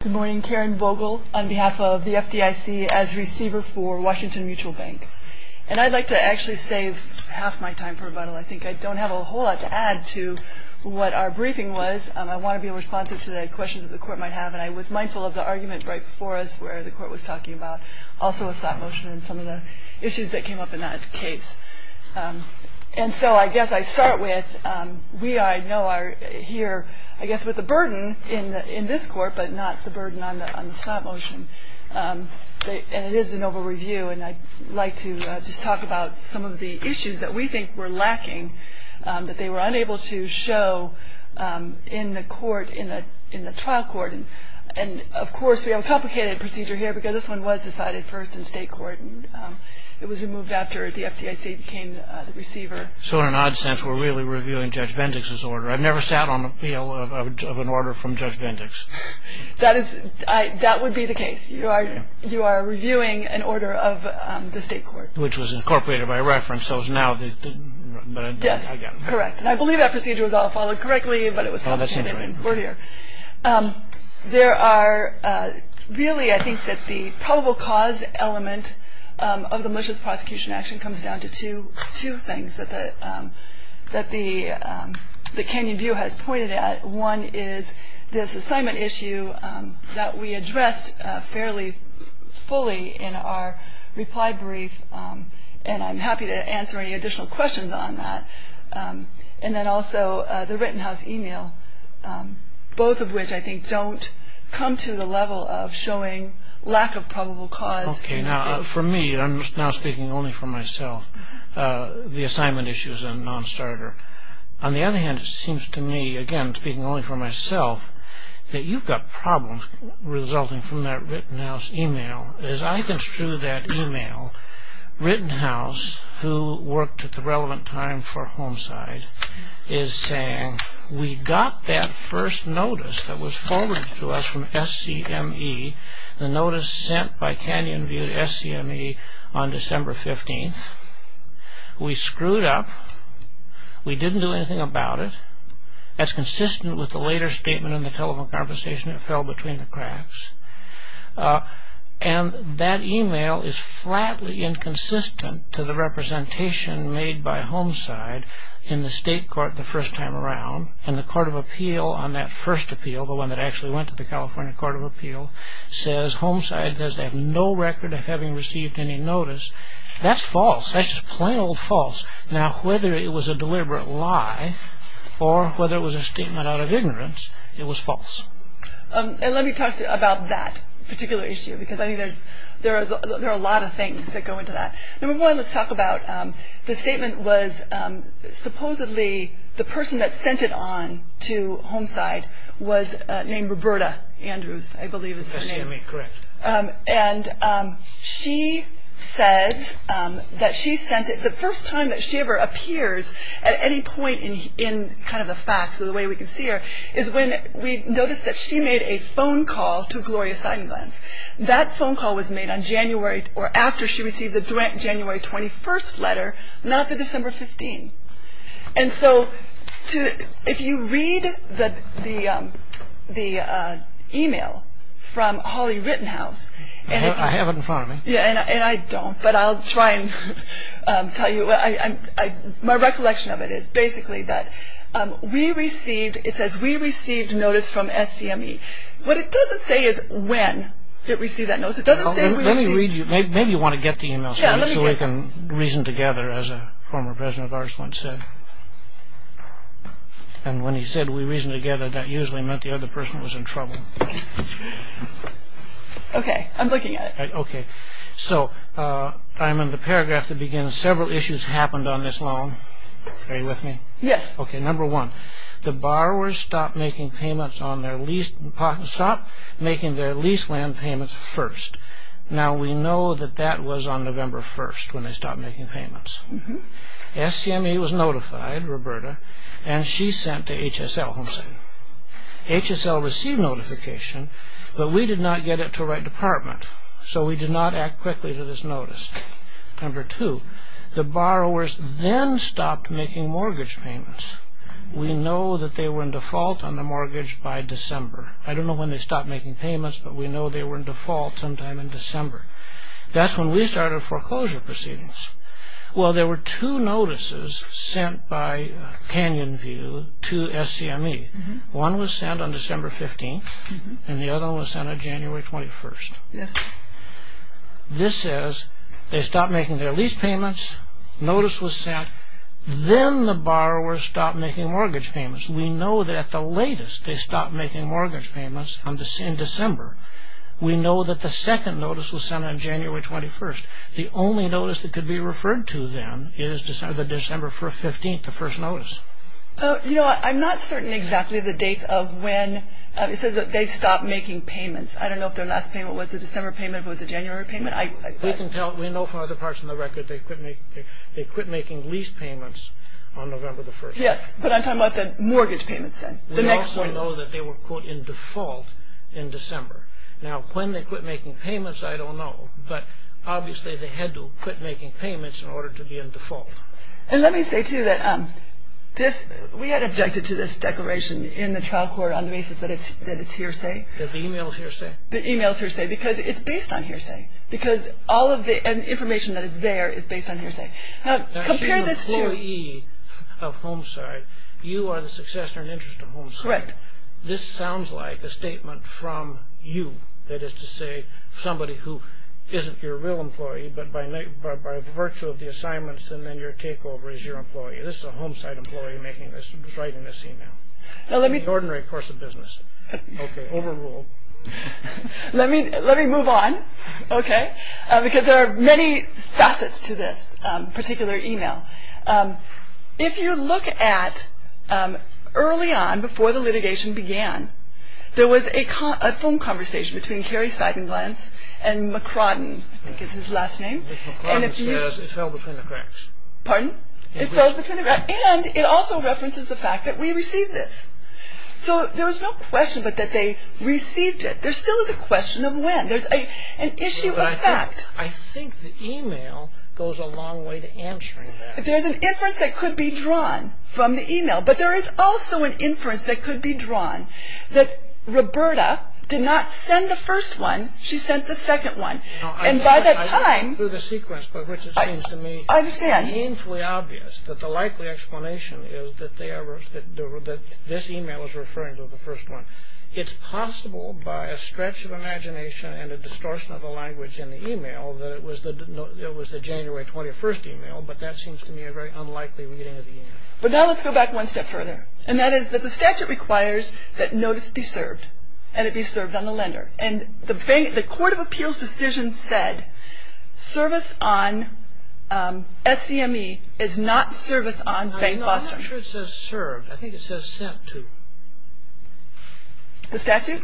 Good morning, Karen Vogel on behalf of the FDIC as Receiver for Washington Mutual Bank. And I'd like to actually save half my time for rebuttal. I think I don't have a whole lot to add to what our briefing was. I want to be responsive to the questions that the Court might have, and I was mindful of the argument right before us where the Court was talking about also a thought motion and some of the issues that came up in that case. And so I guess I start with, we I know are here, I guess with a burden in this Court, but not the burden on the thought motion. And it is an over-review, and I'd like to just talk about some of the issues that we think were lacking that they were unable to show in the Court, in the trial court. And of course, we have a complicated procedure here because this one was decided first in state court. It was removed after the FDIC became the receiver. So in an odd sense, we're really reviewing Judge Bendix's order. I've never sat on appeal of an order from Judge Bendix. That is, that would be the case. You are reviewing an order of the state court. Which was incorporated by reference. So it's now, but I guess. Yes, correct. And I believe that procedure was all followed correctly, but it was complicated. Oh, that seems right. We're here. There are really, I think that the probable cause element of the malicious prosecution action comes down to two things that the Kenyon View has pointed at. One is this assignment issue that we addressed fairly fully in our reply brief, and I'm happy to answer any additional questions on that. And then also the Rittenhouse email, both of which I think don't come to the level of showing lack of probable cause. For me, I'm now speaking only for myself, the assignment issue is a non-starter. On the other hand, it seems to me, again, speaking only for myself, that you've got problems resulting from that Rittenhouse email. As I construe that email, Rittenhouse, who worked at the relevant time for Homeside, is saying, we got that first notice that was forwarded to us from SCME, the notice sent by Kenyon View to SCME on December 15th. We screwed up. We didn't do anything about it. That's consistent with the later statement in the telephone conversation, it fell between the cracks. And that email is flatly inconsistent to the representation made by Homeside in the state court the first time around, and the court of appeal on that first appeal, the one that actually went to the California court of appeal, says Homeside has no record of having received any notice. That's false. That's just plain old false. Now, whether it was a deliberate lie or whether it was a statement out of ignorance, it was false. And let me talk about that particular issue, because I think there are a lot of things that go into that. Number one, let's talk about the statement was, named Roberta Andrews, I believe is the name. SCME, correct. And she says that she sent it the first time that she ever appears at any point in kind of the facts, or the way we can see her, is when we noticed that she made a phone call to Gloria Seidenblatt. That phone call was made on January, or after she received the January 21st letter, not the December 15th. And so if you read the e-mail from Holly Rittenhouse. I have it in front of me. And I don't, but I'll try and tell you. My recollection of it is basically that we received, it says we received notice from SCME. What it doesn't say is when it received that notice. It doesn't say we received. Let me read you. Maybe you want to get the e-mail so we can reason together, as a former president of ours once said. And when he said we reasoned together, that usually meant the other person was in trouble. Okay, I'm looking at it. Okay. So I'm in the paragraph that begins, several issues happened on this loan. Are you with me? Yes. Okay, number one, the borrowers stopped making payments on their lease, stopped making their lease land payments first. Now we know that that was on November 1st when they stopped making payments. SCME was notified, Roberta, and she sent to HSL. HSL received notification, but we did not get it to the right department. So we did not act quickly to this notice. Number two, the borrowers then stopped making mortgage payments. We know that they were in default on the mortgage by December. I don't know when they stopped making payments, but we know they were in default sometime in December. That's when we started foreclosure proceedings. Well, there were two notices sent by Canyon View to SCME. One was sent on December 15th, and the other one was sent on January 21st. Yes. This says they stopped making their lease payments, notice was sent, then the borrowers stopped making mortgage payments. We know that at the latest they stopped making mortgage payments in December. We know that the second notice was sent on January 21st. The only notice that could be referred to then is December 15th, the first notice. You know, I'm not certain exactly the dates of when. It says that they stopped making payments. I don't know if their last payment was a December payment, if it was a January payment. We can tell. We know from other parts of the record they quit making lease payments on November 1st. Yes, but I'm talking about the mortgage payments then, the next one. We also know that they were, quote, in default in December. Now, when they quit making payments, I don't know, but obviously they had to quit making payments in order to be in default. And let me say, too, that we had objected to this declaration in the trial court on the basis that it's hearsay. That the e-mail is hearsay? The e-mail is hearsay because it's based on hearsay, because all of the information that is there is based on hearsay. Now, compare this to- Now, she's an employee of HomeSite. You are the successor in interest of HomeSite. Correct. This sounds like a statement from you, that is to say somebody who isn't your real employee, but by virtue of the assignments and then your takeover is your employee. This is a HomeSite employee making this, writing this e-mail. Now, let me- The ordinary course of business. Okay, overruled. Let me move on, okay? Because there are many facets to this particular e-mail. If you look at early on, before the litigation began, there was a phone conversation between Cary Seidenglanz and McCrodden. I think it's his last name. McCrodden says it fell between the cracks. Pardon? It fell between the cracks. And it also references the fact that we received this. So there was no question but that they received it. There still is a question of when. There's an issue of fact. I think the e-mail goes a long way to answering that. There's an inference that could be drawn from the e-mail, but there is also an inference that could be drawn, that Roberta did not send the first one, she sent the second one. And by that time- I look through the sequence, by which it seems to me- I understand. Meaningfully obvious that the likely explanation is that this e-mail is referring to the first one. It's possible by a stretch of imagination and a distortion of the language in the e-mail that it was the January 21st e-mail, but that seems to me a very unlikely reading of the e-mail. But now let's go back one step further, and that is that the statute requires that notice be served and it be served on the lender. And the Court of Appeals decision said service on SCME is not service on Bank Boston. I'm not sure it says served. I think it says sent to. The statute?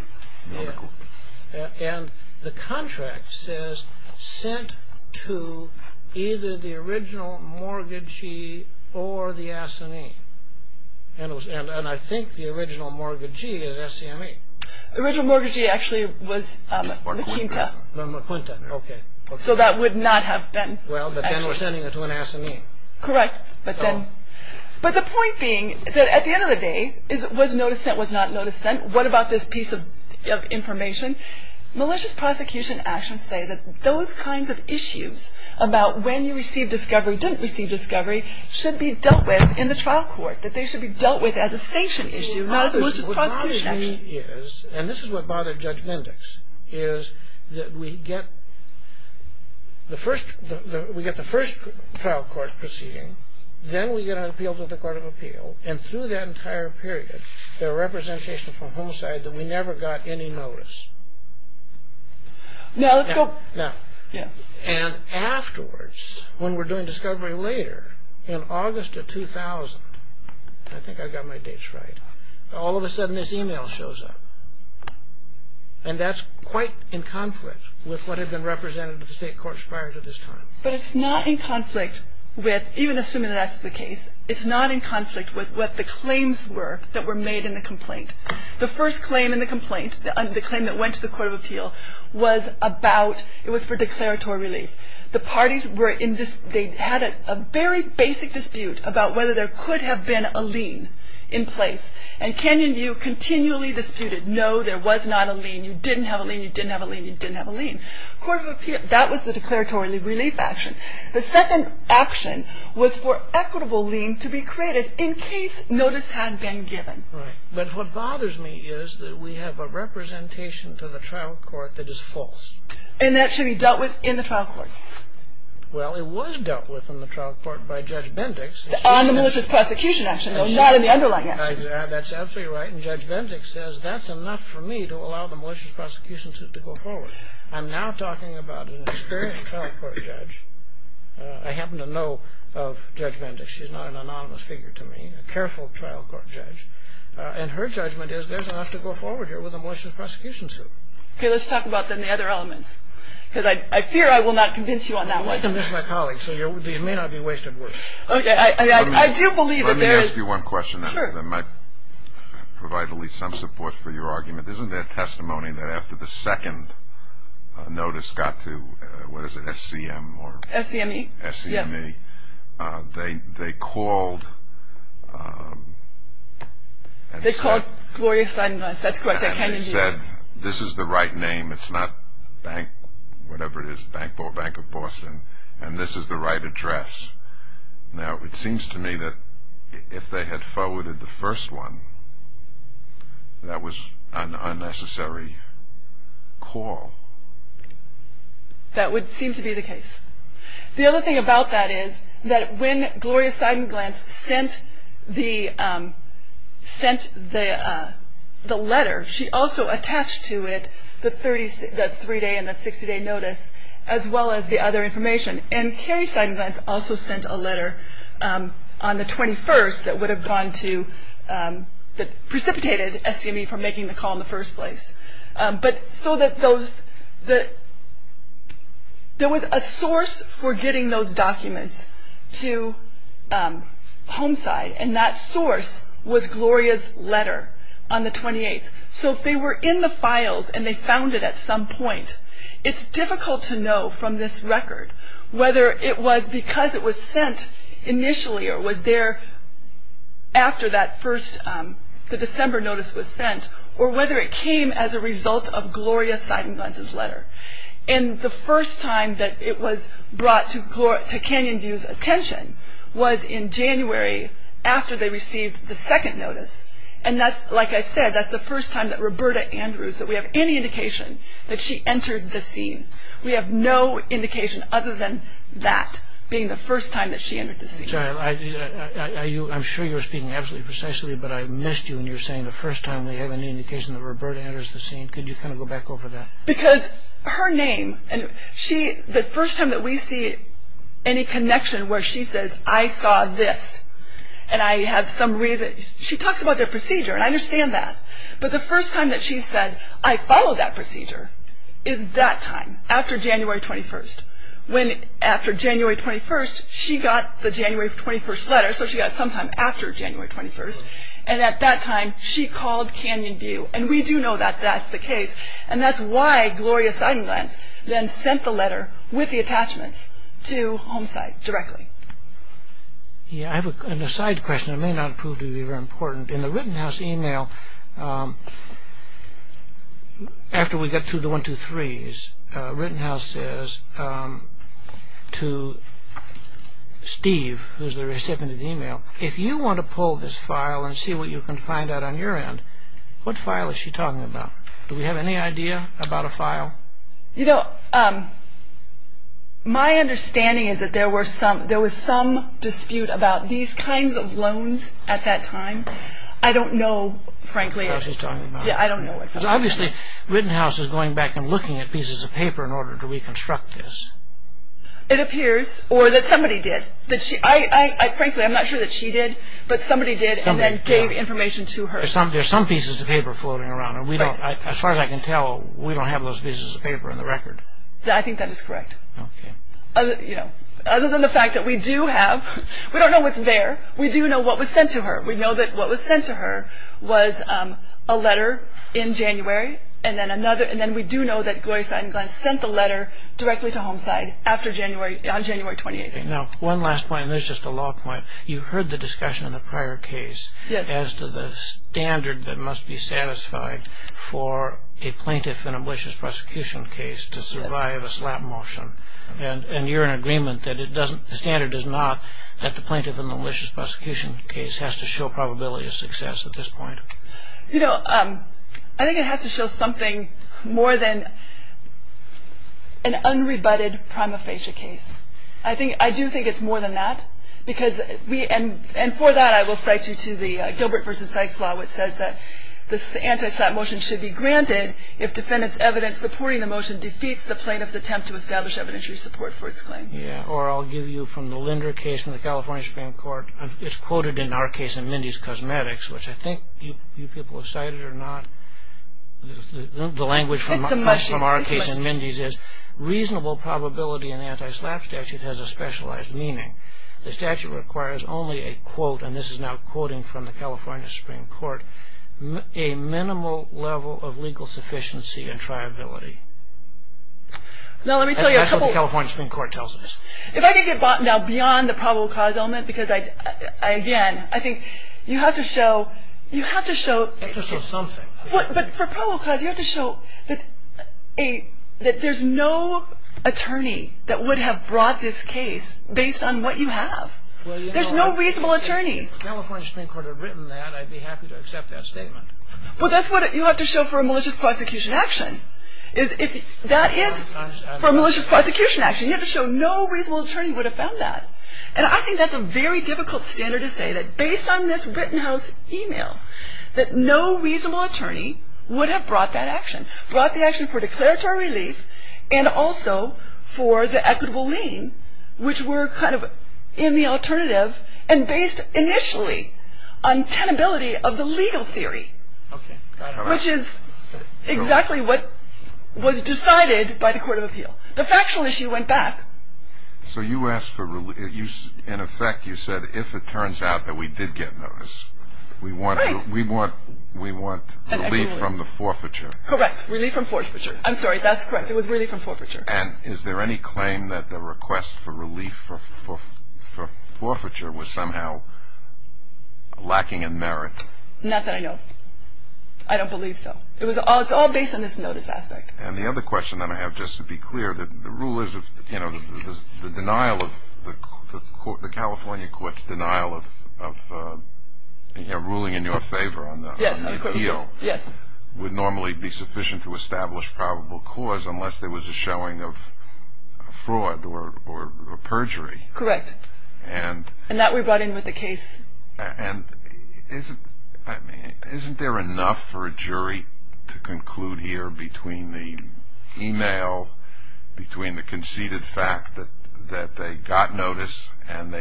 Yeah. And the contract says sent to either the original mortgagee or the SME. And I think the original mortgagee is SCME. The original mortgagee actually was the Quinta. The Quinta, okay. So that would not have been- Well, but then we're sending it to an SME. Correct. But the point being that at the end of the day, was notice sent, was not notice sent? What about this piece of information? Malicious prosecution actions say that those kinds of issues about when you receive discovery, didn't receive discovery, should be dealt with in the trial court, that they should be dealt with as a sanction issue, not as a malicious prosecution action. What bothers me is, and this is what bothered Judge Mendix, is that we get the first trial court proceeding, then we get an appeal to the Court of Appeal, and through that entire period, there are representations from home side that we never got any notice. Now, let's go- Now. And afterwards, when we're doing discovery later, in August of 2000, I think I got my dates right, all of a sudden this email shows up. And that's quite in conflict with what had been represented to the State Court's fires at this time. But it's not in conflict with, even assuming that's the case, it's not in conflict with what the claims were that were made in the complaint. The first claim in the complaint, the claim that went to the Court of Appeal, was about, it was for declaratory relief. The parties were in, they had a very basic dispute about whether there could have been a lien in place, and Canyon View continually disputed, no, there was not a lien, you didn't have a lien, you didn't have a lien, you didn't have a lien. Court of Appeal, that was the declaratory relief action. The second action was for equitable lien to be created in case notice had been given. Right. But what bothers me is that we have a representation to the trial court that is false. And that should be dealt with in the trial court. Well, it was dealt with in the trial court by Judge Bendix. On the malicious prosecution action, not in the underlying action. That's absolutely right. And Judge Bendix says that's enough for me to allow the malicious prosecution suit to go forward. I'm now talking about an experienced trial court judge. I happen to know of Judge Bendix. She's not an anonymous figure to me, a careful trial court judge. And her judgment is there's enough to go forward here with a malicious prosecution suit. Okay, let's talk about then the other elements. Because I fear I will not convince you on that one. I'm just my colleague, so these may not be wasted words. Okay, I do believe that there is... Let me ask you one question. Sure. That might provide at least some support for your argument. Isn't there testimony that after the second notice got to, what is it, SCM or... SCME. SCME. Yes. They called... They called Gloria Steinmeier. That's correct. And they said, this is the right name. It's not Bank, whatever it is, Bank of Boston. And this is the right address. Now, it seems to me that if they had forwarded the first one, that was an unnecessary call. That would seem to be the case. The other thing about that is that when Gloria Seidenglanz sent the letter, she also attached to it the three-day and the 60-day notice, as well as the other information. And Carrie Seidenglanz also sent a letter on the 21st that would have gone to, that precipitated SCME from making the call in the first place. But so that those... There was a source for getting those documents to HomeSide, and that source was Gloria's letter on the 28th. So if they were in the files and they found it at some point, it's difficult to know from this record whether it was because it was sent initially or was there after that first, the December notice was sent, or whether it came as a result of Gloria Seidenglanz's letter. And the first time that it was brought to Canyon View's attention was in January after they received the second notice. And that's, like I said, that's the first time that Roberta Andrews, that we have any indication that she entered the scene. We have no indication other than that being the first time that she entered the scene. I'm sure you're speaking absolutely precisely, but I missed you when you were saying the first time we have any indication that Roberta Andrews was seen. Could you kind of go back over that? Because her name, and the first time that we see any connection where she says, I saw this, and I have some reason... She talks about their procedure, and I understand that. But the first time that she said, I follow that procedure, is that time, after January 21st. When, after January 21st, she got the January 21st letter, so she got it sometime after January 21st. And at that time, she called Canyon View. And we do know that that's the case. And that's why Gloria Seidenglanz then sent the letter with the attachments to Home Site directly. Yeah, I have an aside question that may not prove to be very important. In the Rittenhouse email, after we got through the 123s, Rittenhouse says to Steve, who's the recipient of the email, if you want to pull this file and see what you can find out on your end, what file is she talking about? Do we have any idea about a file? You know, my understanding is that there was some dispute about these kinds of loans at that time. I don't know, frankly, I don't know. So obviously, Rittenhouse is going back and looking at pieces of paper in order to reconstruct this. It appears, or that somebody did. Frankly, I'm not sure that she did, but somebody did, and then gave information to her. There's some pieces of paper floating around. As far as I can tell, we don't have those pieces of paper in the record. I think that is correct. Other than the fact that we do have, we don't know what's there. We do know what was sent to her. We know that what was sent to her was a letter in January, and then we do know that Gloria Seidenklein sent the letter directly to Homicide on January 28th. Now, one last point, and this is just a law point. You heard the discussion in the prior case as to the standard that must be satisfied for a plaintiff in a malicious prosecution case to survive a slap motion, and you're in agreement that the standard is not that the plaintiff in a malicious prosecution case has to show probability of success at this point. You know, I think it has to show something more than an unrebutted prima facie case. I do think it's more than that, and for that I will cite you to the Gilbert v. Sykes law, which says that the anti-slap motion should be granted if defendant's evidence supporting the motion defeats the plaintiff's attempt to establish evidentiary support for its claim. Yeah, or I'll give you from the Linder case from the California Supreme Court. It's quoted in our case in Mindy's Cosmetics, which I think you people have cited or not. The language from our case in Mindy's is, reasonable probability in the anti-slap statute has a specialized meaning. The statute requires only a quote, and this is now quoting from the California Supreme Court, a minimal level of legal sufficiency and triability. That's what the California Supreme Court tells us. If I could get now beyond the probable cause element, because again, I think you have to show... You have to show something. But for probable cause, you have to show that there's no attorney that would have brought this case based on what you have. There's no reasonable attorney. If the California Supreme Court had written that, I'd be happy to accept that statement. But that's what you have to show for a malicious prosecution action. That is, for a malicious prosecution action, you have to show no reasonable attorney would have found that. And I think that's a very difficult standard to say, that based on this Rittenhouse email, that no reasonable attorney would have brought that action, brought the action for declaratory relief and also for the equitable lien, which were kind of in the alternative and based initially on tenability of the legal theory, which is exactly what was decided by the Court of Appeal. The factual issue went back. So you asked for... In effect, you said, if it turns out that we did get notice, we want relief from the forfeiture. Correct. Relief from forfeiture. I'm sorry. That's correct. It was relief from forfeiture. And is there any claim that the request for relief for forfeiture was somehow lacking in merit? Not that I know of. I don't believe so. It's all based on this notice aspect. And the other question that I have, just to be clear, the rule is that the California court's denial of ruling in your favor on the appeal would normally be sufficient to establish probable cause unless there was a showing of fraud or perjury. Correct. And that we brought in with the case. And isn't there enough for a jury to conclude here between the email, between the conceded fact that they got notice and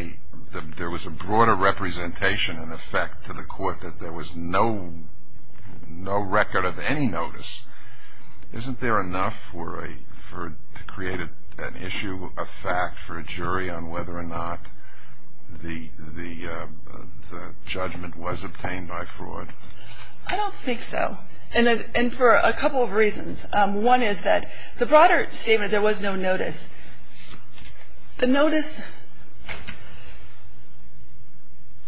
there was a broader representation in effect to the court that there was no record of any notice. Isn't there enough to create an issue of fact for a jury on whether or not the judgment was obtained by fraud? I don't think so. And for a couple of reasons. One is that the broader statement, there was no notice. The notice,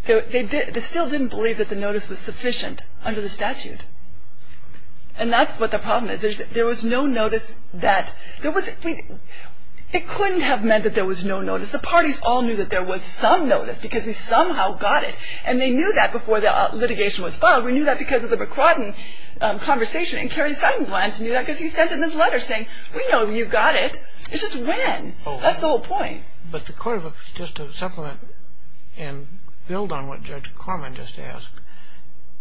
they still didn't believe that the notice was sufficient under the statute. And that's what the problem is. There was no notice that, there was, it couldn't have meant that there was no notice. The parties all knew that there was some notice because we somehow got it. And they knew that before the litigation was filed. We knew that because of the McQuadden conversation. And Kerry Seidenblatt knew that because he sent in this letter saying, we know you got it. It's just when? That's the whole point. But the court, just to supplement and build on what Judge Corman just asked,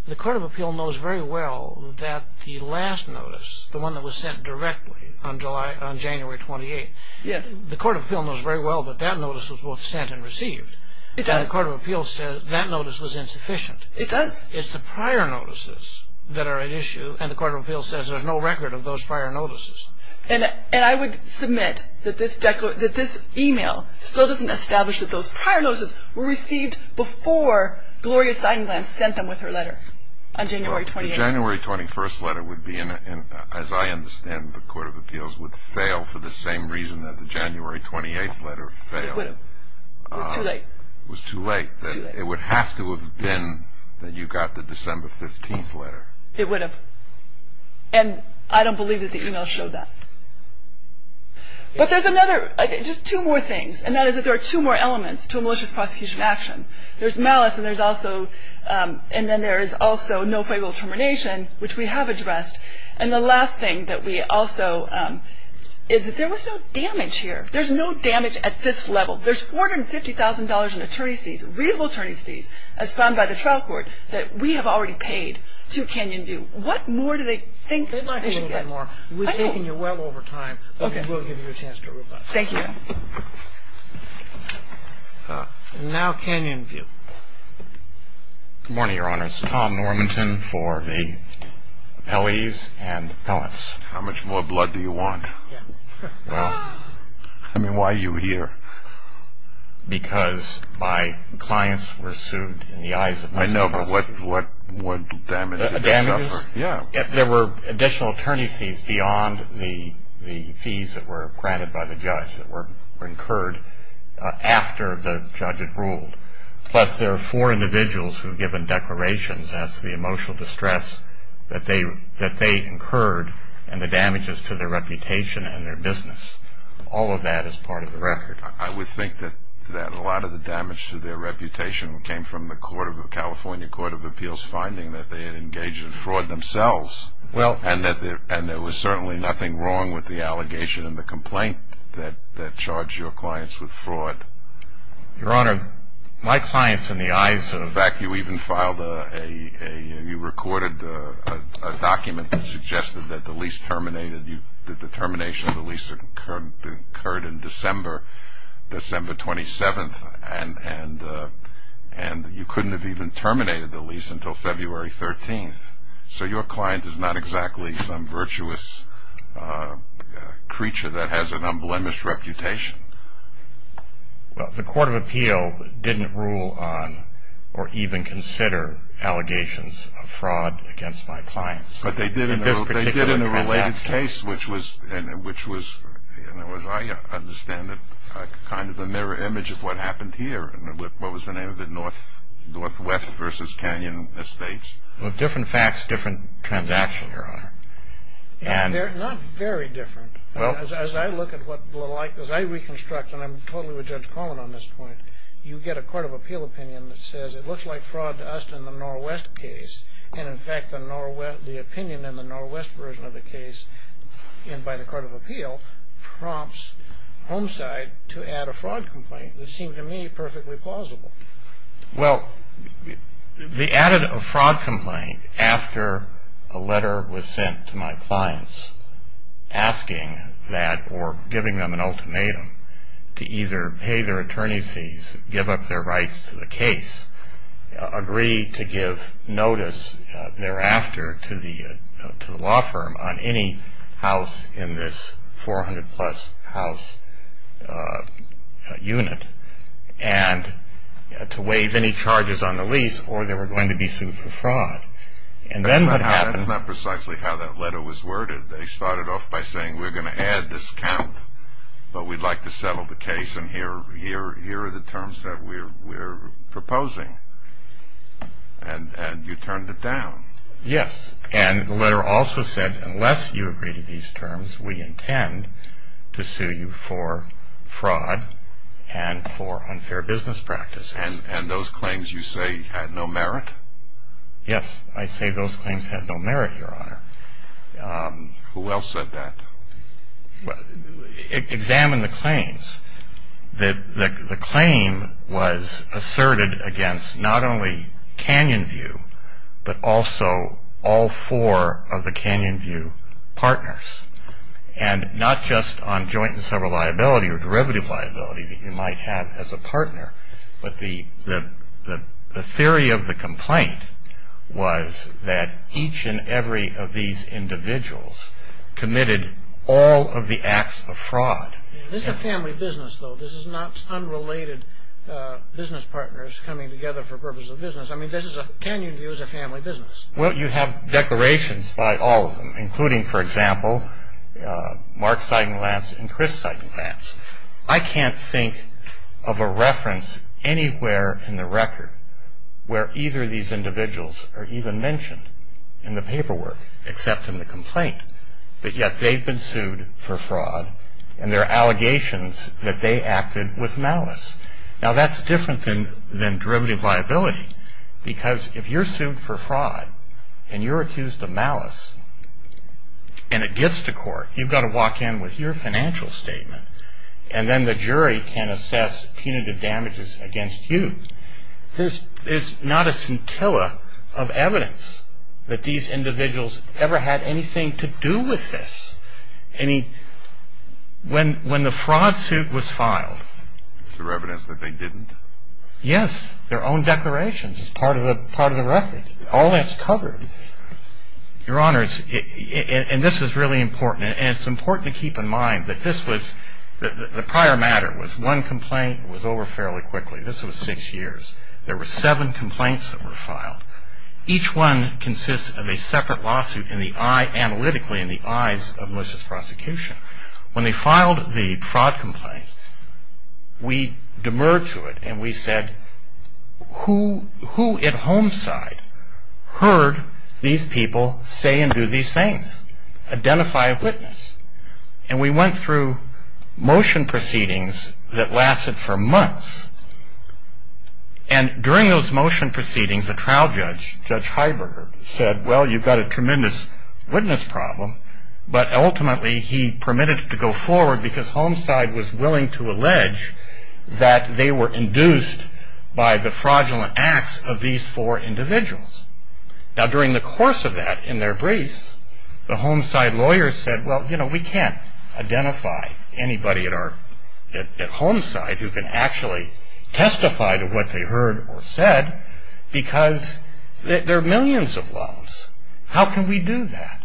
the Court of Appeal knows very well that the last notice, the one that was sent directly on January 28th, the Court of Appeal knows very well that that notice was both sent and received. It does. And the Court of Appeal says that notice was insufficient. It does. It's the prior notices that are at issue, and the Court of Appeal says there's no record of those prior notices. And I would submit that this email still doesn't establish that those prior notices were received before Gloria Seidenblatt sent them with her letter on January 28th. The January 21st letter would be, as I understand, the Court of Appeals would fail for the same reason that the January 28th letter failed. It would have. It was too late. It was too late. It was too late. It would have to have been that you got the December 15th letter. It would have. And I don't believe that the email showed that. But there's another, just two more things, and that is that there are two more elements to a malicious prosecution action. There's malice, and there's also no fabled termination, which we have addressed. And the last thing that we also – is that there was no damage here. There's no damage at this level. There's $450,000 in attorney's fees, reasonable attorney's fees, as found by the trial court that we have already paid to Canyon View. What more do they think they should get? They'd like a little bit more. We've taken you well over time. Okay. We'll give you a chance to rebut. Thank you. And now Canyon View. Good morning, Your Honors. Tom Normanton for the appellees and appellants. How much more blood do you want? Yeah. Well, I mean, why are you here? Because my clients were sued in the eyes of my clients. I know, but what damage did they suffer? Yeah. There were additional attorney's fees beyond the fees that were granted by the judge that were incurred after the judge had ruled. Plus there are four individuals who have given declarations, that's the emotional distress that they incurred and the damages to their reputation and their business. All of that is part of the record. I would think that a lot of the damage to their reputation came from the California Court of Appeals finding that they had engaged in fraud themselves and there was certainly nothing wrong with the allegation and the complaint that charged your clients with fraud. Your Honor, my clients in the eyes of the- In fact, you even filed a, you recorded a document that suggested that the lease terminated, that the termination of the lease occurred in December, December 27th, and you couldn't have even terminated the lease until February 13th. So your client is not exactly some virtuous creature that has an unblemished reputation. Well, the Court of Appeal didn't rule on or even consider allegations of fraud against my clients. But they did in a related case, which was, as I understand it, kind of a mirror image of what happened here and what was the name of it, Northwest versus Canyon Estates. Well, different facts, different transactions, Your Honor. They're not very different. As I look at what, as I reconstruct, and I'm totally with Judge Coleman on this point, you get a Court of Appeal opinion that says it looks like fraud to us in the Northwest case, and in fact the opinion in the Northwest version of the case, and by the Court of Appeal prompts Homeside to add a fraud complaint that seemed to me perfectly plausible. Well, they added a fraud complaint after a letter was sent to my clients asking that or giving them an ultimatum to either pay their attorney's fees, give up their rights to the case, agree to give notice thereafter to the law firm on any house in this 400-plus house unit, and to waive any charges on the lease, or they were going to be sued for fraud. And then what happened… That's not precisely how that letter was worded. They started off by saying we're going to add this count, but we'd like to settle the case, and here are the terms that we're proposing, and you turned it down. Yes, and the letter also said unless you agree to these terms, we intend to sue you for fraud and for unfair business practices. And those claims you say had no merit? Yes, I say those claims had no merit, Your Honor. Who else said that? Examine the claims. The claim was asserted against not only Canyon View, but also all four of the Canyon View partners, and not just on joint and several liability or derivative liability that you might have as a partner, but the theory of the complaint was that each and every of these individuals committed all of the acts of fraud. This is a family business, though. This is not unrelated business partners coming together for the purpose of business. I mean, this is a Canyon View is a family business. Well, you have declarations by all of them, including, for example, Mark Seidenlatz and Chris Seidenlatz. I can't think of a reference anywhere in the record where either of these individuals are even mentioned in the paperwork, except in the complaint, but yet they've been sued for fraud, and there are allegations that they acted with malice. Now, that's different than derivative liability, because if you're sued for fraud, and you're accused of malice, and it gets to court, you've got to walk in with your financial statement, and then the jury can assess punitive damages against you. There's not a scintilla of evidence that these individuals ever had anything to do with this. I mean, when the fraud suit was filed. Is there evidence that they didn't? Yes, their own declarations. It's part of the record. All that's covered. Your Honors, and this is really important, and it's important to keep in mind that this was, the prior matter was one complaint was over fairly quickly. This was six years. There were seven complaints that were filed. Each one consists of a separate lawsuit analytically in the eyes of malicious prosecution. When they filed the fraud complaint, we demurred to it, and we said, who at home side heard these people say and do these things? Identify a witness, and we went through motion proceedings that lasted for months, and during those motion proceedings, a trial judge, Judge Heiberger, said, well, you've got a tremendous witness problem, but ultimately he permitted it to go forward because home side was willing to allege that they were induced by the fraudulent acts of these four individuals. Now, during the course of that, in their briefs, the home side lawyers said, well, you know, we can't identify anybody at home side who can actually testify to what they heard or said because there are millions of loans. How can we do that?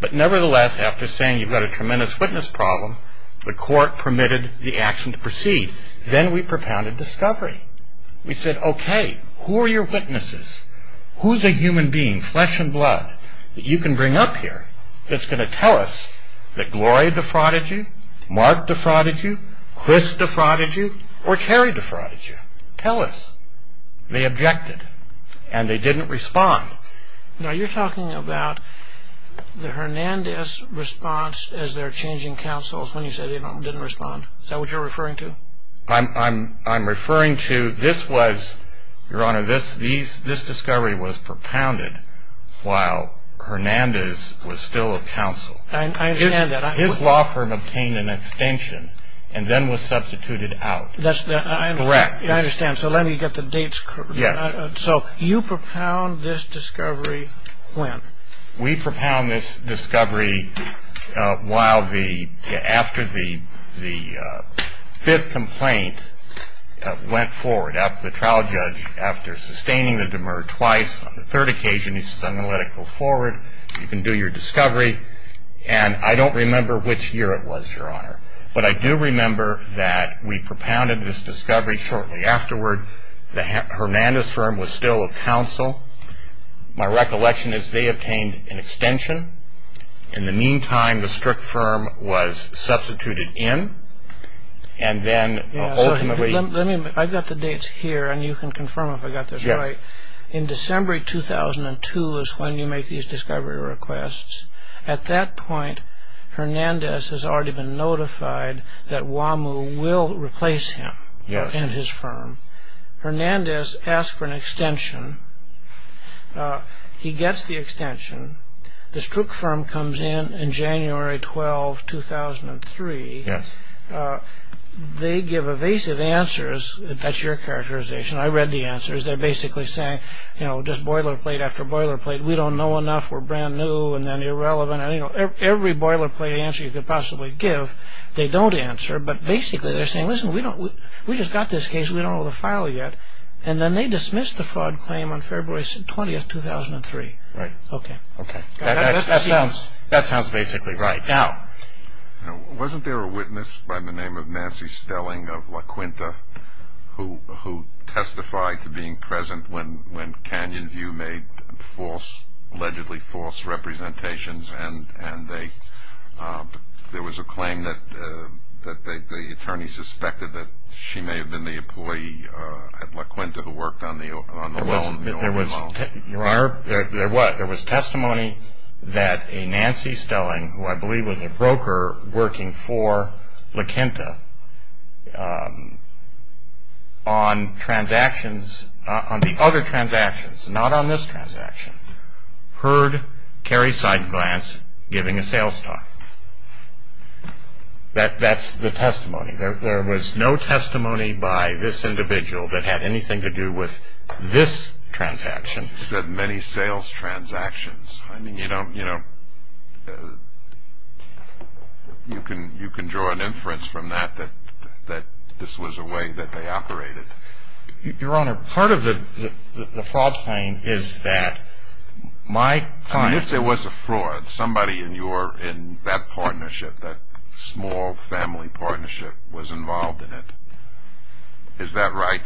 But nevertheless, after saying you've got a tremendous witness problem, the court permitted the action to proceed. Then we propounded discovery. We said, okay, who are your witnesses? Who's a human being, flesh and blood, that you can bring up here that's going to tell us that Gloria defrauded you, Mark defrauded you, Chris defrauded you, or Carrie defrauded you? Tell us. They objected. And they didn't respond. Now, you're talking about the Hernandez response as they're changing counsels when you said they didn't respond. Is that what you're referring to? I'm referring to this was, Your Honor, this discovery was propounded while Hernandez was still a counsel. I understand that. His law firm obtained an extension and then was substituted out. Correct. I understand. So let me get the dates correct. Yes. So you propound this discovery when? We propound this discovery after the fifth complaint went forward, after the trial judge, after sustaining the demur twice, on the third occasion he says, I'm going to let it go forward, you can do your discovery. And I don't remember which year it was, Your Honor. But I do remember that we propounded this discovery shortly afterward. The Hernandez firm was still a counsel. My recollection is they obtained an extension. In the meantime, the Strzok firm was substituted in. And then ultimately. I've got the dates here and you can confirm if I've got this right. Yes. In December 2002 is when you make these discovery requests. At that point, Hernandez has already been notified that Wamu will replace him and his firm. Hernandez asks for an extension. He gets the extension. The Strzok firm comes in in January 12, 2003. They give evasive answers. That's your characterization. I read the answers. They're basically saying, you know, just boilerplate after boilerplate. We don't know enough. We're brand new and then irrelevant. Every boilerplate answer you could possibly give, they don't answer. But basically they're saying, listen, we just got this case. We don't know the file yet. And then they dismissed the fraud claim on February 20, 2003. Right. Okay. That sounds basically right. Now. Wasn't there a witness by the name of Nancy Stelling of La Quinta who testified to being present when Canyon View made allegedly false representations and there was a claim that the attorney suspected that she may have been the employee at La Quinta who worked on the loan? Your Honor, there was testimony that a Nancy Stelling, who I believe was a broker working for La Quinta, on transactions, on the other transactions, not on this transaction, heard Cary Seidenglanz giving a sales talk. That's the testimony. There was no testimony by this individual that had anything to do with this transaction. You said many sales transactions. I mean, you know, you can draw an inference from that that this was a way that they operated. Your Honor, part of the fraud claim is that my client. I mean, if there was a fraud, somebody in that partnership, that small family partnership was involved in it. Is that right?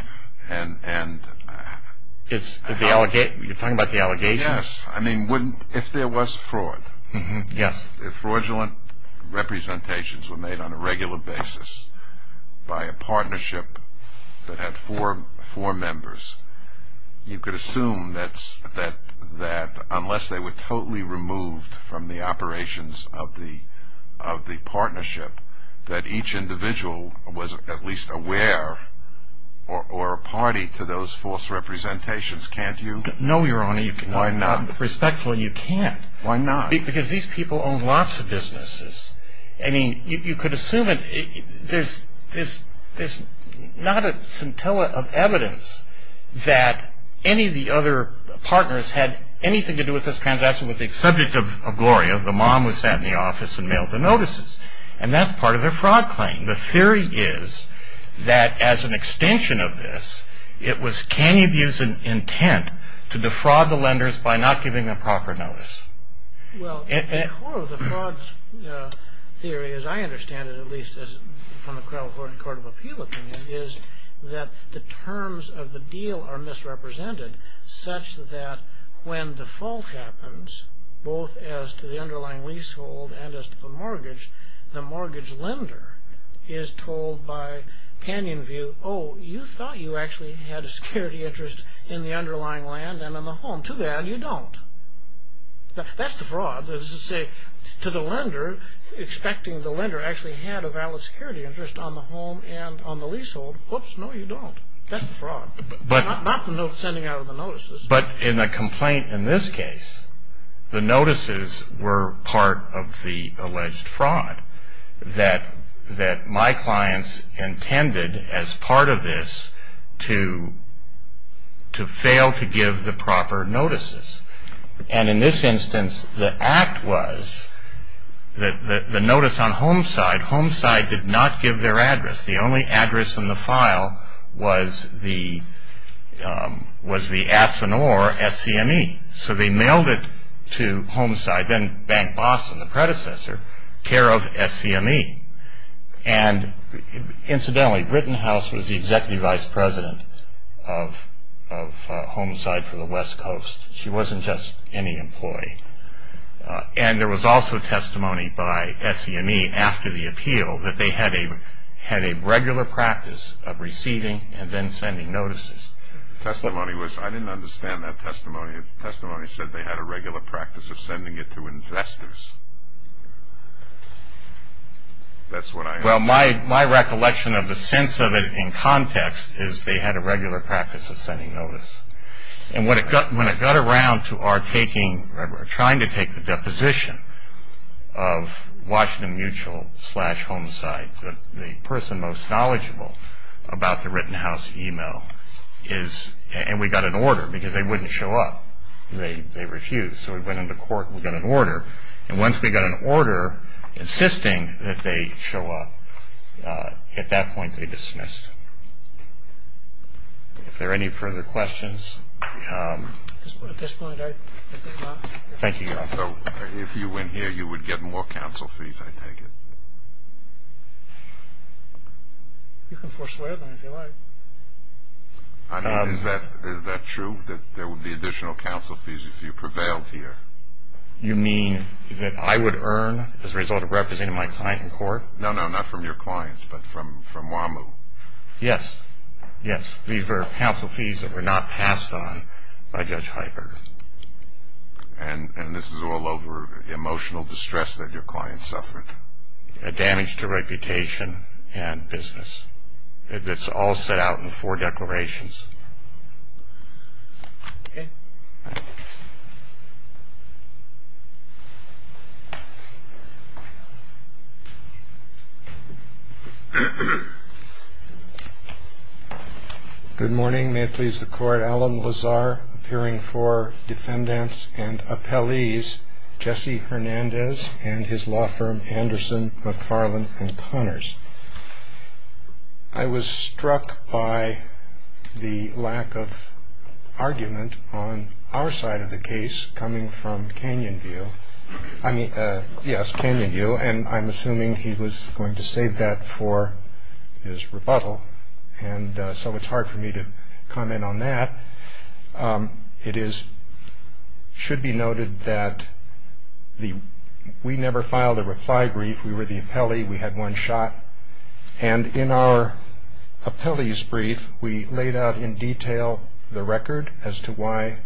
You're talking about the allegations? Yes. I mean, if there was fraud, if fraudulent representations were made on a regular basis by a partnership that had four members, you could assume that unless they were totally removed from the operations of the partnership, that each individual was at least aware or a party to those false representations. Can't you? No, Your Honor. Why not? Respectfully, you can't. Why not? Because these people own lots of businesses. I mean, you could assume it. There's not a scintilla of evidence that any of the other partners had anything to do with this transaction. The person with the subject of Gloria, the mom, was sent in the office and mailed the notices. And that's part of their fraud claim. The theory is that as an extension of this, it was canny abuse of intent to defraud the lenders by not giving them proper notice. Well, the core of the fraud theory, as I understand it, at least from the criminal court of appeal opinion, is that the terms of the deal are misrepresented such that when the fault happens, both as to the underlying leasehold and as to the mortgage, the mortgage lender is told by panion view, oh, you thought you actually had a security interest in the underlying land and in the home. Too bad you don't. That's the fraud. To the lender, expecting the lender actually had a valid security interest on the home and on the leasehold, whoops, no, you don't. That's the fraud. Not the sending out of the notices. But in the complaint in this case, the notices were part of the alleged fraud that my clients intended as part of this to fail to give the proper notices. And in this instance, the act was the notice on HomeSide. HomeSide did not give their address. The only address in the file was the Asinor SCME. So they mailed it to HomeSide, then Bank Boston, the predecessor, care of SCME. And incidentally, Britten House was the executive vice president of HomeSide for the West Coast. She wasn't just any employee. And there was also testimony by SCME after the appeal that they had a regular practice of receiving and then sending notices. The testimony was, I didn't understand that testimony. The testimony said they had a regular practice of sending it to investors. Well, my recollection of the sense of it in context is they had a regular practice of sending notice. And when it got around to our taking, trying to take the deposition of Washington Mutual slash HomeSide, the person most knowledgeable about the Britten House e-mail is, and we got an order because they wouldn't show up. They refused. So we went into court. We got an order. And once we got an order insisting that they show up, at that point they dismissed. Is there any further questions? At this point, I think not. Thank you, Your Honor. So if you win here, you would get more counsel fees, I take it? You can forswear them if you like. I mean, is that true, that there would be additional counsel fees if you prevailed here? You mean that I would earn as a result of representing my client in court? No, no, not from your clients, but from WAMU. Yes, yes. These were counsel fees that were not passed on by Judge Heiberger. And this is all over emotional distress that your client suffered? Damage to reputation and business. It's all set out in the four declarations. Okay. Good morning. May it please the Court. Alan Lazar, appearing for defendants and appellees. Jesse Hernandez and his law firm, Anderson, McFarland & Connors. I was struck by the lack of argument on our side of the case coming from Canyonview. I mean, yes, Canyonview, and I'm assuming he was going to save that for his rebuttal. And so it's hard for me to comment on that. It should be noted that we never filed a reply brief. We were the appellee. We had one shot. And in our appellee's brief, we laid out in detail the record as to why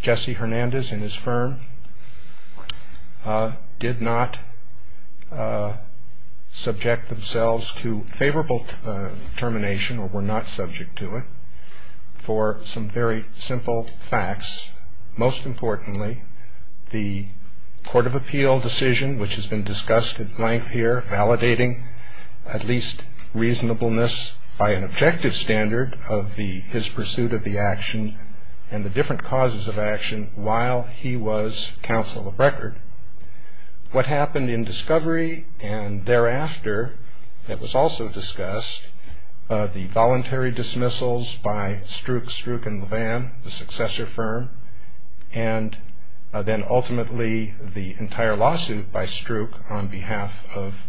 Jesse Hernandez and his firm did not subject themselves to favorable determination or were not subject to it for some very simple facts. Most importantly, the court of appeal decision, which has been discussed at length here, validating at least reasonableness by an objective standard of his pursuit of the action and the different causes of action while he was counsel of record. What happened in discovery and thereafter that was also discussed, the voluntary dismissals by Strook, Strook & LeVan, the successor firm, and then ultimately the entire lawsuit by Strook on behalf of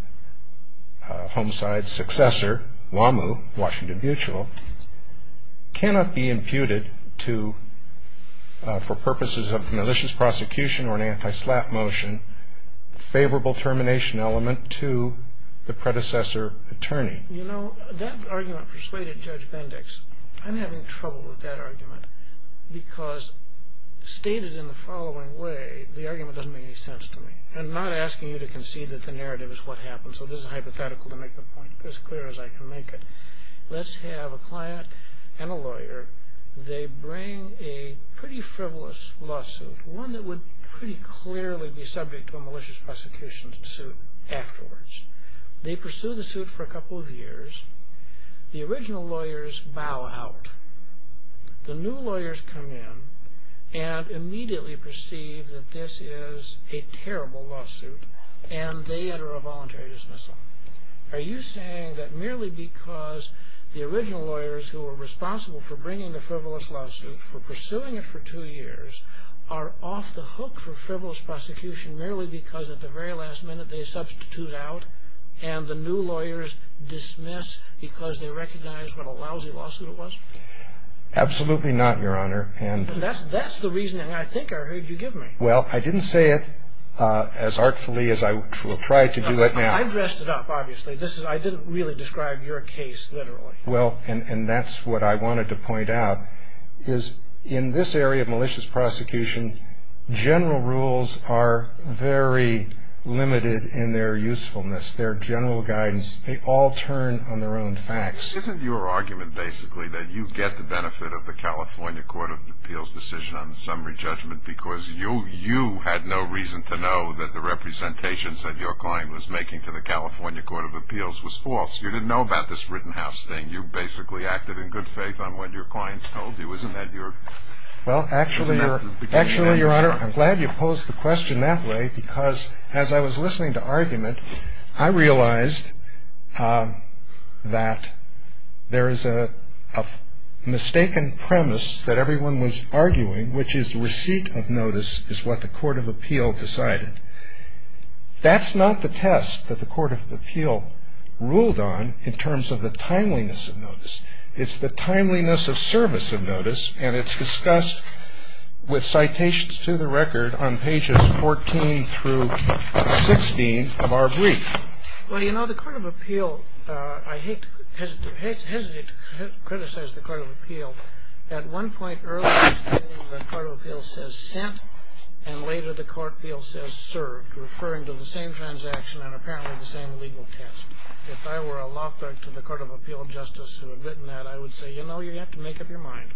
Homicide's successor, Wamu, Washington Mutual, cannot be imputed to, for purposes of malicious prosecution or an anti-SLAPP motion, favorable termination element to the predecessor attorney. You know, that argument persuaded Judge Bendix. I'm having trouble with that argument because stated in the following way, the argument doesn't make any sense to me. I'm not asking you to concede that the narrative is what happened, so this is hypothetical to make the point as clear as I can make it. Let's have a client and a lawyer. They bring a pretty frivolous lawsuit, one that would pretty clearly be subject to a malicious prosecution suit afterwards. They pursue the suit for a couple of years. The original lawyers bow out. The new lawyers come in and immediately perceive that this is a terrible lawsuit and they enter a voluntary dismissal. Are you saying that merely because the original lawyers who were responsible for bringing the frivolous lawsuit, for pursuing it for two years, are off the hook for frivolous prosecution merely because at the very last minute they substitute out and the new lawyers dismiss because they recognize what a lousy lawsuit it was? Absolutely not, Your Honor. That's the reasoning I think I heard you give me. Well, I didn't say it as artfully as I will try to do it now. I dressed it up, obviously. I didn't really describe your case literally. Well, and that's what I wanted to point out, is in this area of malicious prosecution, general rules are very limited in their usefulness. Their general guidance, they all turn on their own facts. Isn't your argument basically that you get the benefit of the California Court of Appeals decision on the summary judgment because you had no reason to know that the representations that your client was making to the California Court of Appeals was false? You didn't know about this Rittenhouse thing. You basically acted in good faith on what your clients told you. Isn't that the beginning? Well, actually, Your Honor, I'm glad you posed the question that way because as I was listening to argument, I realized that there is a mistaken premise that everyone was arguing, which is receipt of notice is what the Court of Appeal decided. That's not the test that the Court of Appeal ruled on in terms of the timeliness of notice. It's the timeliness of service of notice, and it's discussed with citations to the record on pages 14 through 16 of our brief. Well, you know, the Court of Appeal, I hesitate to criticize the Court of Appeal. At one point earlier, the Court of Appeal says sent, and later the Court of Appeal says served, referring to the same transaction and apparently the same legal test. If I were a law clerk to the Court of Appeal justice who had written that, I would say, you know, you have to make up your mind.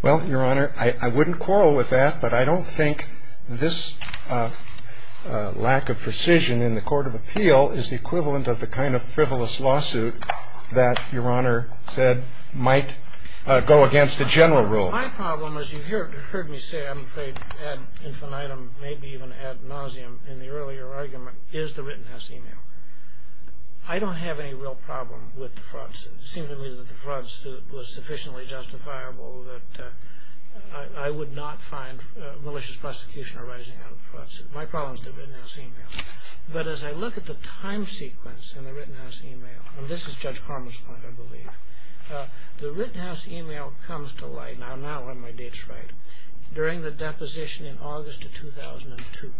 Well, Your Honor, I wouldn't quarrel with that, but I don't think this lack of precision in the Court of Appeal is the equivalent of the kind of frivolous lawsuit that Your Honor said might go against the general rule. My problem, as you heard me say, I'm afraid, ad infinitum, maybe even ad nauseam in the earlier argument, is the Rittenhouse email. I don't have any real problem with the fraud suit. It seems to me that the fraud suit was sufficiently justifiable that I would not find malicious prosecution arising out of the fraud suit. My problem is the Rittenhouse email. But as I look at the time sequence in the Rittenhouse email, and this is Judge Carman's point, I believe, the Rittenhouse email comes to light, and I'll now let my dates write, during the deposition in August of 2002.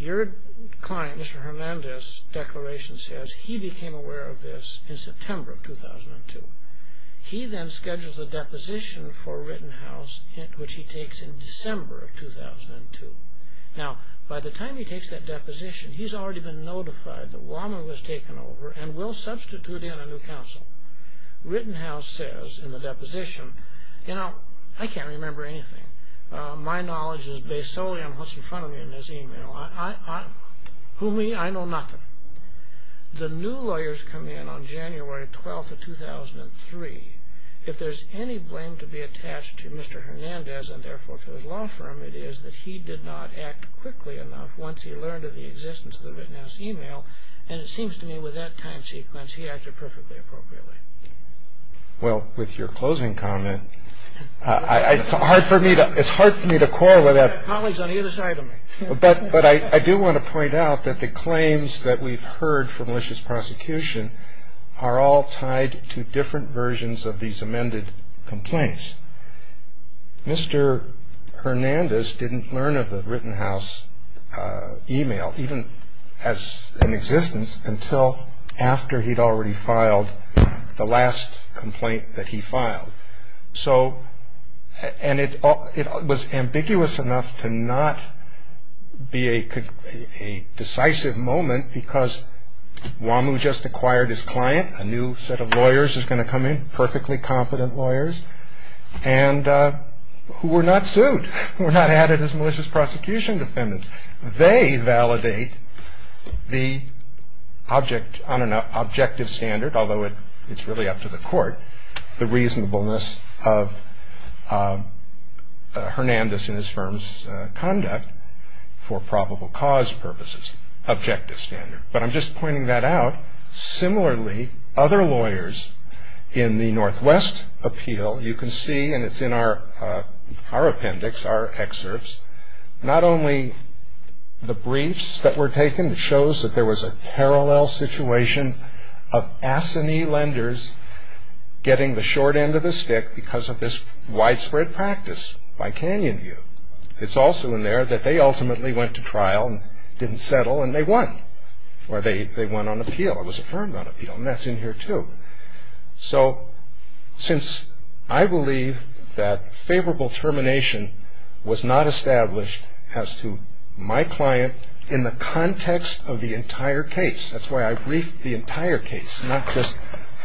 Your client, Mr. Hernandez, declaration says he became aware of this in September of 2002. He then schedules a deposition for Rittenhouse, which he takes in December of 2002. Now, by the time he takes that deposition, he's already been notified that Wallman was taken over and will substitute in a new counsel. Rittenhouse says in the deposition, you know, I can't remember anything. My knowledge is based solely on what's in front of me in this email. Who me? I know nothing. The new lawyers come in on January 12th of 2003. If there's any blame to be attached to Mr. Hernandez and therefore to his law firm, it is that he did not act quickly enough once he learned of the existence of the Rittenhouse email, and it seems to me with that time sequence, he acted perfectly appropriately. Well, with your closing comment, it's hard for me to correlate that. Colleagues on either side of me. But I do want to point out that the claims that we've heard from malicious prosecution are all tied to different versions of these amended complaints. Mr. Hernandez didn't learn of the Rittenhouse email, even as in existence, until after he'd already filed the last complaint that he filed. So, and it was ambiguous enough to not be a decisive moment because Wamu just acquired his client, a new set of lawyers is going to come in, perfectly competent lawyers, and who were not sued, were not added as malicious prosecution defendants. They validate the objective standard, although it's really up to the court, the reasonableness of Hernandez and his firm's conduct for probable cause purposes, objective standard. But I'm just pointing that out. Similarly, other lawyers in the Northwest appeal, you can see, and it's in our appendix, our excerpts, not only the briefs that were taken, it shows that there was a parallel situation of assignee lenders getting the short end of the stick because of this widespread practice by Canyonview. It's also in there that they ultimately went to trial and didn't settle and they won, or they won on appeal. It was affirmed on appeal, and that's in here too. So, since I believe that favorable termination was not established as to my client in the context of the entire case, that's why I briefed the entire case, not just,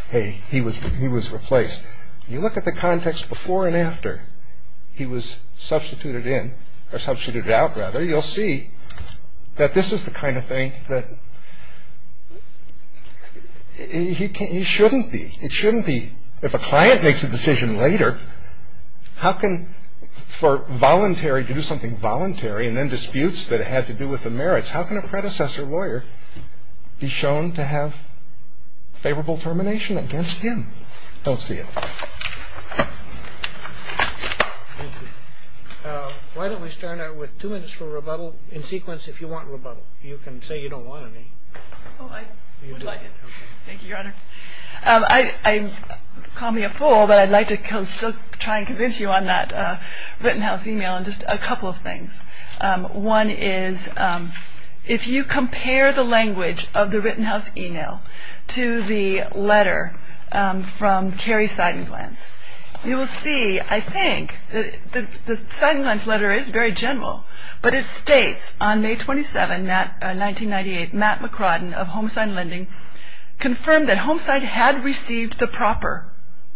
hey, he was replaced. You look at the context before and after he was substituted in, or substituted out, rather, you'll see that this is the kind of thing that he shouldn't be. It shouldn't be, if a client makes a decision later, how can, for voluntary, to do something voluntary and then disputes that had to do with the merits, how can a predecessor lawyer be shown to have favorable termination against him? Don't see it. Why don't we start out with two minutes for rebuttal, in sequence, if you want rebuttal. You can say you don't want any. Oh, I would like it. Thank you, Your Honor. I call me a fool, but I'd like to still try and convince you on that written house email on just a couple of things. One is, if you compare the language of the written house email to the letter from Cary Seidenglanz, you will see, I think, the Seidenglanz letter is very general, but it states, on May 27, 1998, Matt McRodden of Homesign Lending confirmed that Homesign had received the proper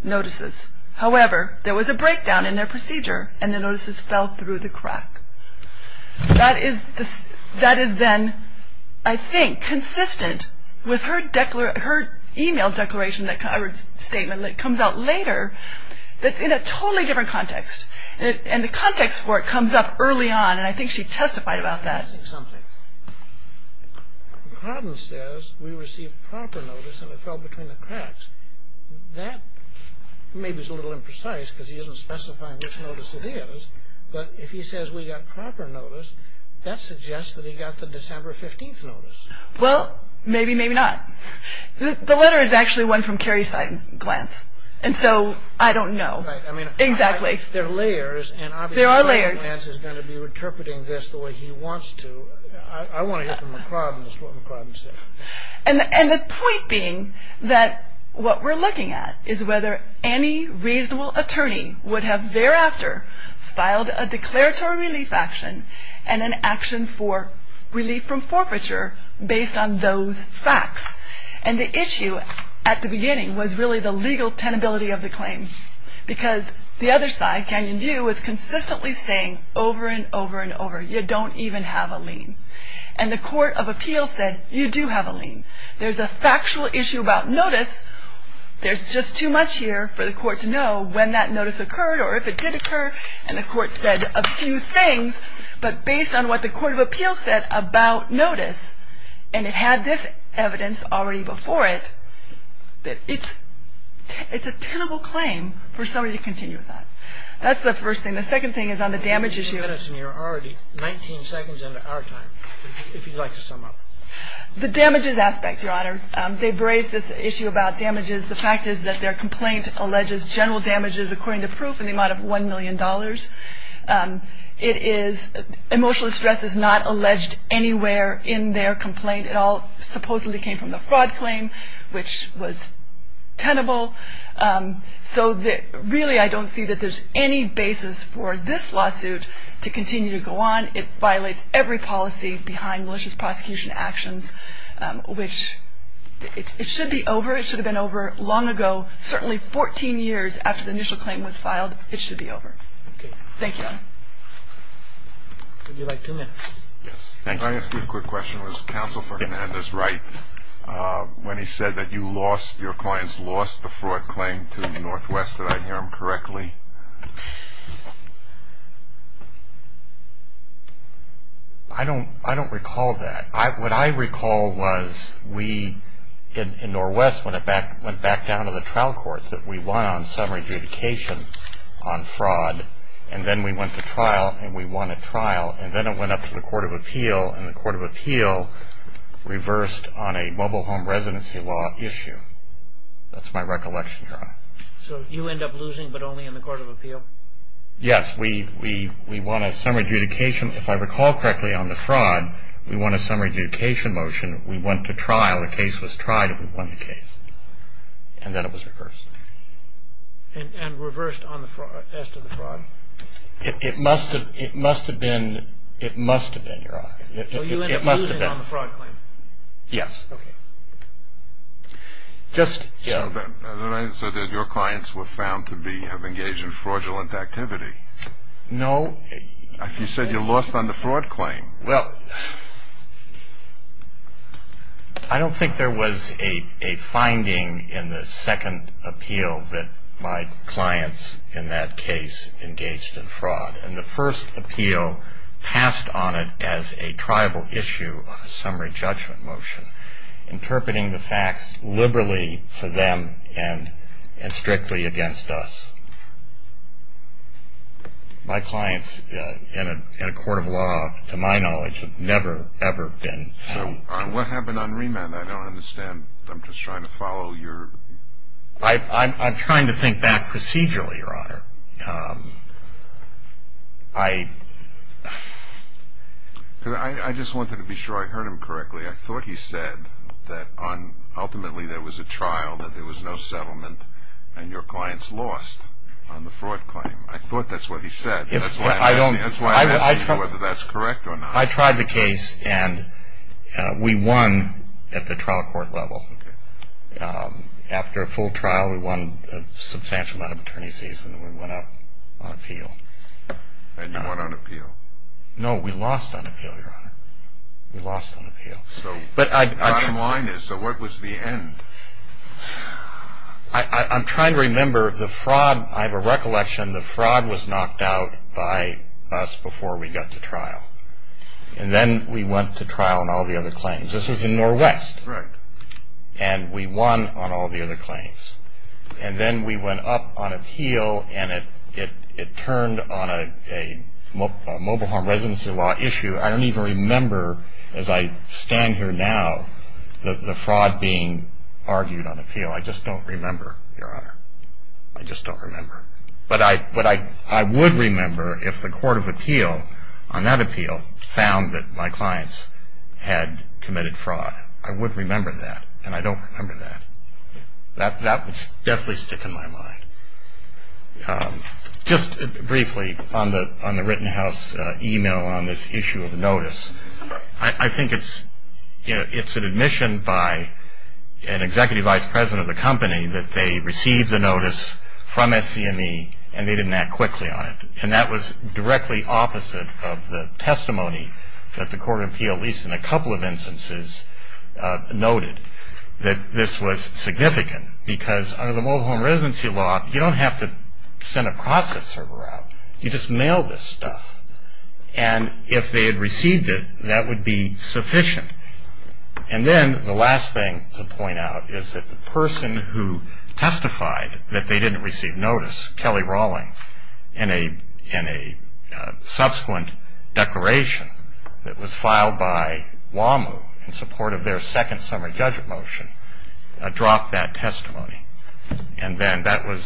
notices. However, there was a breakdown in their procedure, and the notices fell through the crack. That is then, I think, consistent with her email declaration, that statement that comes out later, that's in a totally different context. And the context for it comes up early on, and I think she testified about that. McRodden says, we received proper notice and it fell between the cracks. That maybe is a little imprecise, because he isn't specifying which notice it is, but if he says we got proper notice, that suggests that he got the December 15th notice. Well, maybe, maybe not. The letter is actually one from Cary Seidenglanz, and so I don't know. There are layers, and obviously Seidenglanz is going to be interpreting this the way he wants to. I want to hear from McRodden as to what McRodden said. And the point being that what we're looking at is whether any reasonable attorney would have thereafter filed a declaratory relief action, and an action for relief from forfeiture based on those facts. And the issue at the beginning was really the legal tenability of the claim, because the other side, Canyon View, was consistently saying over and over and over, you don't even have a lien. And the court of appeals said, you do have a lien. There's a factual issue about notice. There's just too much here for the court to know when that notice occurred or if it did occur. And the court said a few things, but based on what the court of appeals said about notice, and it had this evidence already before it, that it's a tenable claim for somebody to continue with that. That's the first thing. The second thing is on the damage issue. You've given us nearly 19 seconds into our time. If you'd like to sum up. The damages aspect, Your Honor. They've raised this issue about damages. The fact is that their complaint alleges general damages according to proof in the amount of $1 million. Emotional stress is not alleged anywhere in their complaint. It all supposedly came from the fraud claim, which was tenable. So really I don't see that there's any basis for this lawsuit to continue to go on. It violates every policy behind malicious prosecution actions, which it should be over. It should have been over long ago, certainly 14 years after the initial claim was filed. It should be over. Thank you, Your Honor. Would you like two minutes? Yes. I have a quick question. Was Counsel for Hernandez right when he said that you lost, your clients lost the fraud claim to Northwest? Did I hear him correctly? I don't recall that. What I recall was we, in Northwest, went back down to the trial courts that we won on summary adjudication on fraud. And then we went to trial and we won a trial. And then it went up to the Court of Appeal. And the Court of Appeal reversed on a mobile home residency law issue. That's my recollection, Your Honor. So you end up losing but only in the Court of Appeal? Yes. We won a summary adjudication. If I recall correctly, on the fraud, we won a summary adjudication motion. We went to trial. The case was tried and we won the case. And then it was reversed. And reversed as to the fraud? It must have been. It must have been, Your Honor. So you end up losing on the fraud claim? Yes. Okay. So then your clients were found to have engaged in fraudulent activity. No. You said you lost on the fraud claim. Well, I don't think there was a finding in the second appeal that my clients, in that case, engaged in fraud. And the first appeal passed on it as a tribal issue of a summary judgment motion, interpreting the facts liberally for them and strictly against us. My clients in a court of law, to my knowledge, have never, ever been found. What happened on remand? I don't understand. I'm just trying to follow your ---- I'm trying to think back procedurally, Your Honor. I just wanted to be sure I heard him correctly. I thought he said that ultimately there was a trial, that there was no settlement, and your clients lost on the fraud claim. I thought that's what he said. That's why I'm asking you whether that's correct or not. I tried the case, and we won at the trial court level. Okay. After a full trial, we won a substantial amount of attorney's fees, and we went up on appeal. And you won on appeal? No, we lost on appeal, Your Honor. We lost on appeal. So the bottom line is, so what was the end? I'm trying to remember the fraud. I have a recollection the fraud was knocked out by us before we got to trial. And then we went to trial on all the other claims. This was in Norwest. Correct. And we won on all the other claims. And then we went up on appeal, and it turned on a mobile home residency law issue. I don't even remember, as I stand here now, the fraud being argued on appeal. I just don't remember, Your Honor. I just don't remember. But I would remember if the court of appeal on that appeal found that my clients had committed fraud. I would remember that, and I don't remember that. That would definitely stick in my mind. Just briefly on the written house e-mail on this issue of notice, I think it's an admission by an executive vice president of the company that they received the notice from SCME, and they didn't act quickly on it. And that was directly opposite of the testimony that the court of appeal, at least in a couple of instances, noted that this was significant. Because under the mobile home residency law, you don't have to send a process server out. You just mail this stuff. And if they had received it, that would be sufficient. And then the last thing to point out is that the person who testified that they didn't receive notice, Kelly Rawlings, in a subsequent declaration that was filed by WAMU in support of their second summer judgment motion, dropped that testimony. And then that was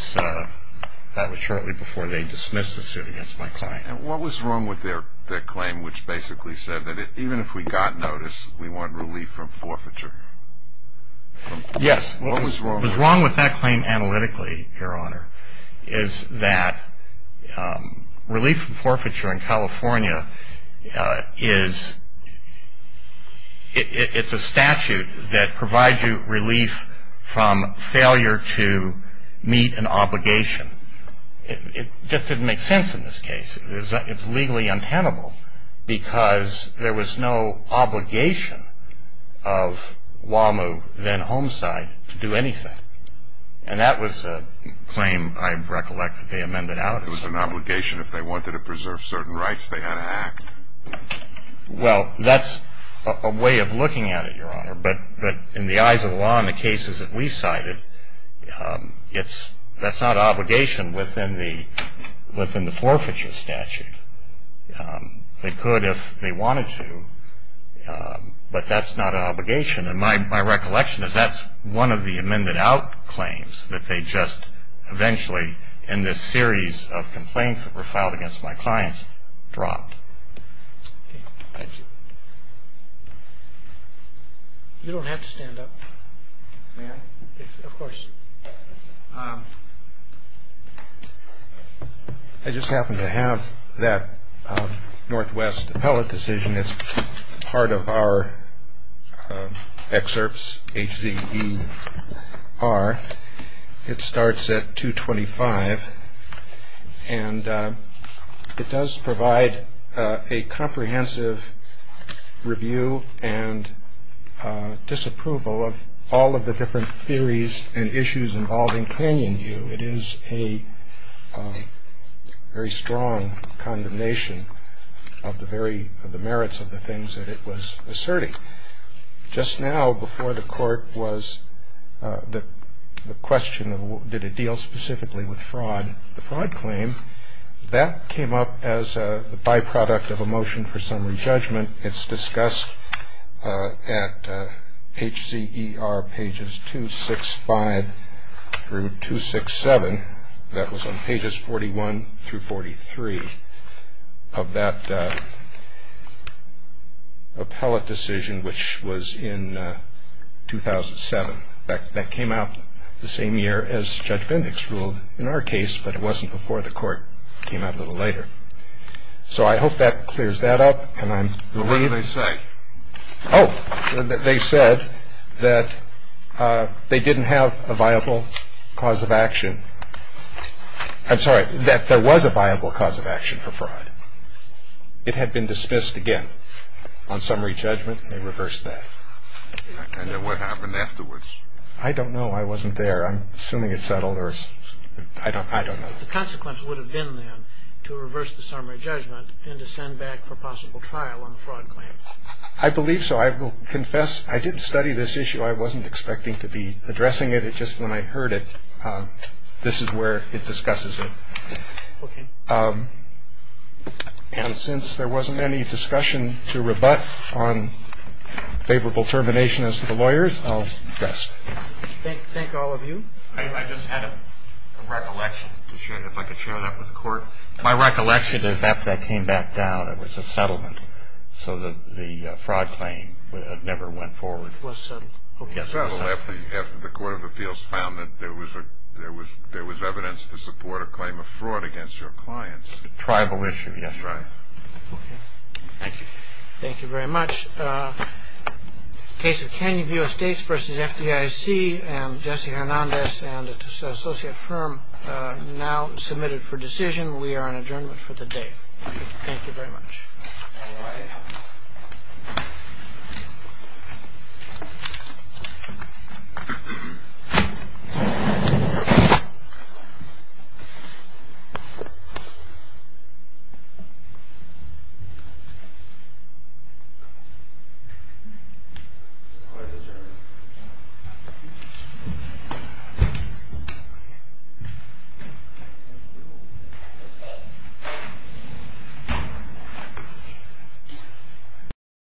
shortly before they dismissed the suit against my client. And what was wrong with their claim, which basically said that even if we got notice, we want relief from forfeiture? Yes. What was wrong with that claim analytically, Your Honor, is that relief from forfeiture in California is a statute that provides you relief from failure to meet an obligation. It just didn't make sense in this case. It was legally untenable because there was no obligation of WAMU, then Homeside, to do anything. And that was a claim, I recollect, that they amended out. It was an obligation. If they wanted to preserve certain rights, they had to act. Well, that's a way of looking at it, Your Honor. But in the eyes of the law in the cases that we cited, that's not obligation within the forfeiture statute. They could if they wanted to, but that's not an obligation. And my recollection is that's one of the amended out claims that they just eventually, in this series of complaints that were filed against my clients, dropped. You don't have to stand up, ma'am. Of course. I just happen to have that Northwest appellate decision as part of our excerpts. H-Z-E-R. It starts at 225, and it does provide a comprehensive review and disapproval of all of the different theories and issues involving Canyon View. It is a very strong condemnation of the merits of the things that it was asserting. Just now before the court was the question of did it deal specifically with fraud, the fraud claim, that came up as a byproduct of a motion for summary judgment. It's discussed at H-Z-E-R pages 265 through 267. That was on pages 41 through 43 of that appellate decision, which was in 2007. In fact, that came out the same year as Judge Bendix ruled in our case, but it wasn't before the court came out a little later. So I hope that clears that up. What did they say? Oh, they said that they didn't have a viable cause of action. I'm sorry, that there was a viable cause of action for fraud. It had been dismissed again on summary judgment. They reversed that. And then what happened afterwards? I don't know. I wasn't there. I'm assuming it's settled, or I don't know. The consequence would have been then to reverse the summary judgment and to send back for possible trial on the fraud claim. I believe so. I will confess I didn't study this issue. I wasn't expecting to be addressing it. It's just when I heard it, this is where it discusses it. Okay. And since there wasn't any discussion to rebut on favorable termination as to the lawyers, I'll address it. Thank all of you. My recollection is after that came back down, it was a settlement. So the fraud claim never went forward. It was settled. It was settled after the Court of Appeals found that there was evidence to support a claim of fraud against your clients. A tribal issue, yes. Right. Okay. Thank you. Thank you very much. Case of Canyon View Estates v. FDIC. Jesse Hernandez and his associate firm now submitted for decision. We are on adjournment for the day. Thank you very much. All right. Thank you.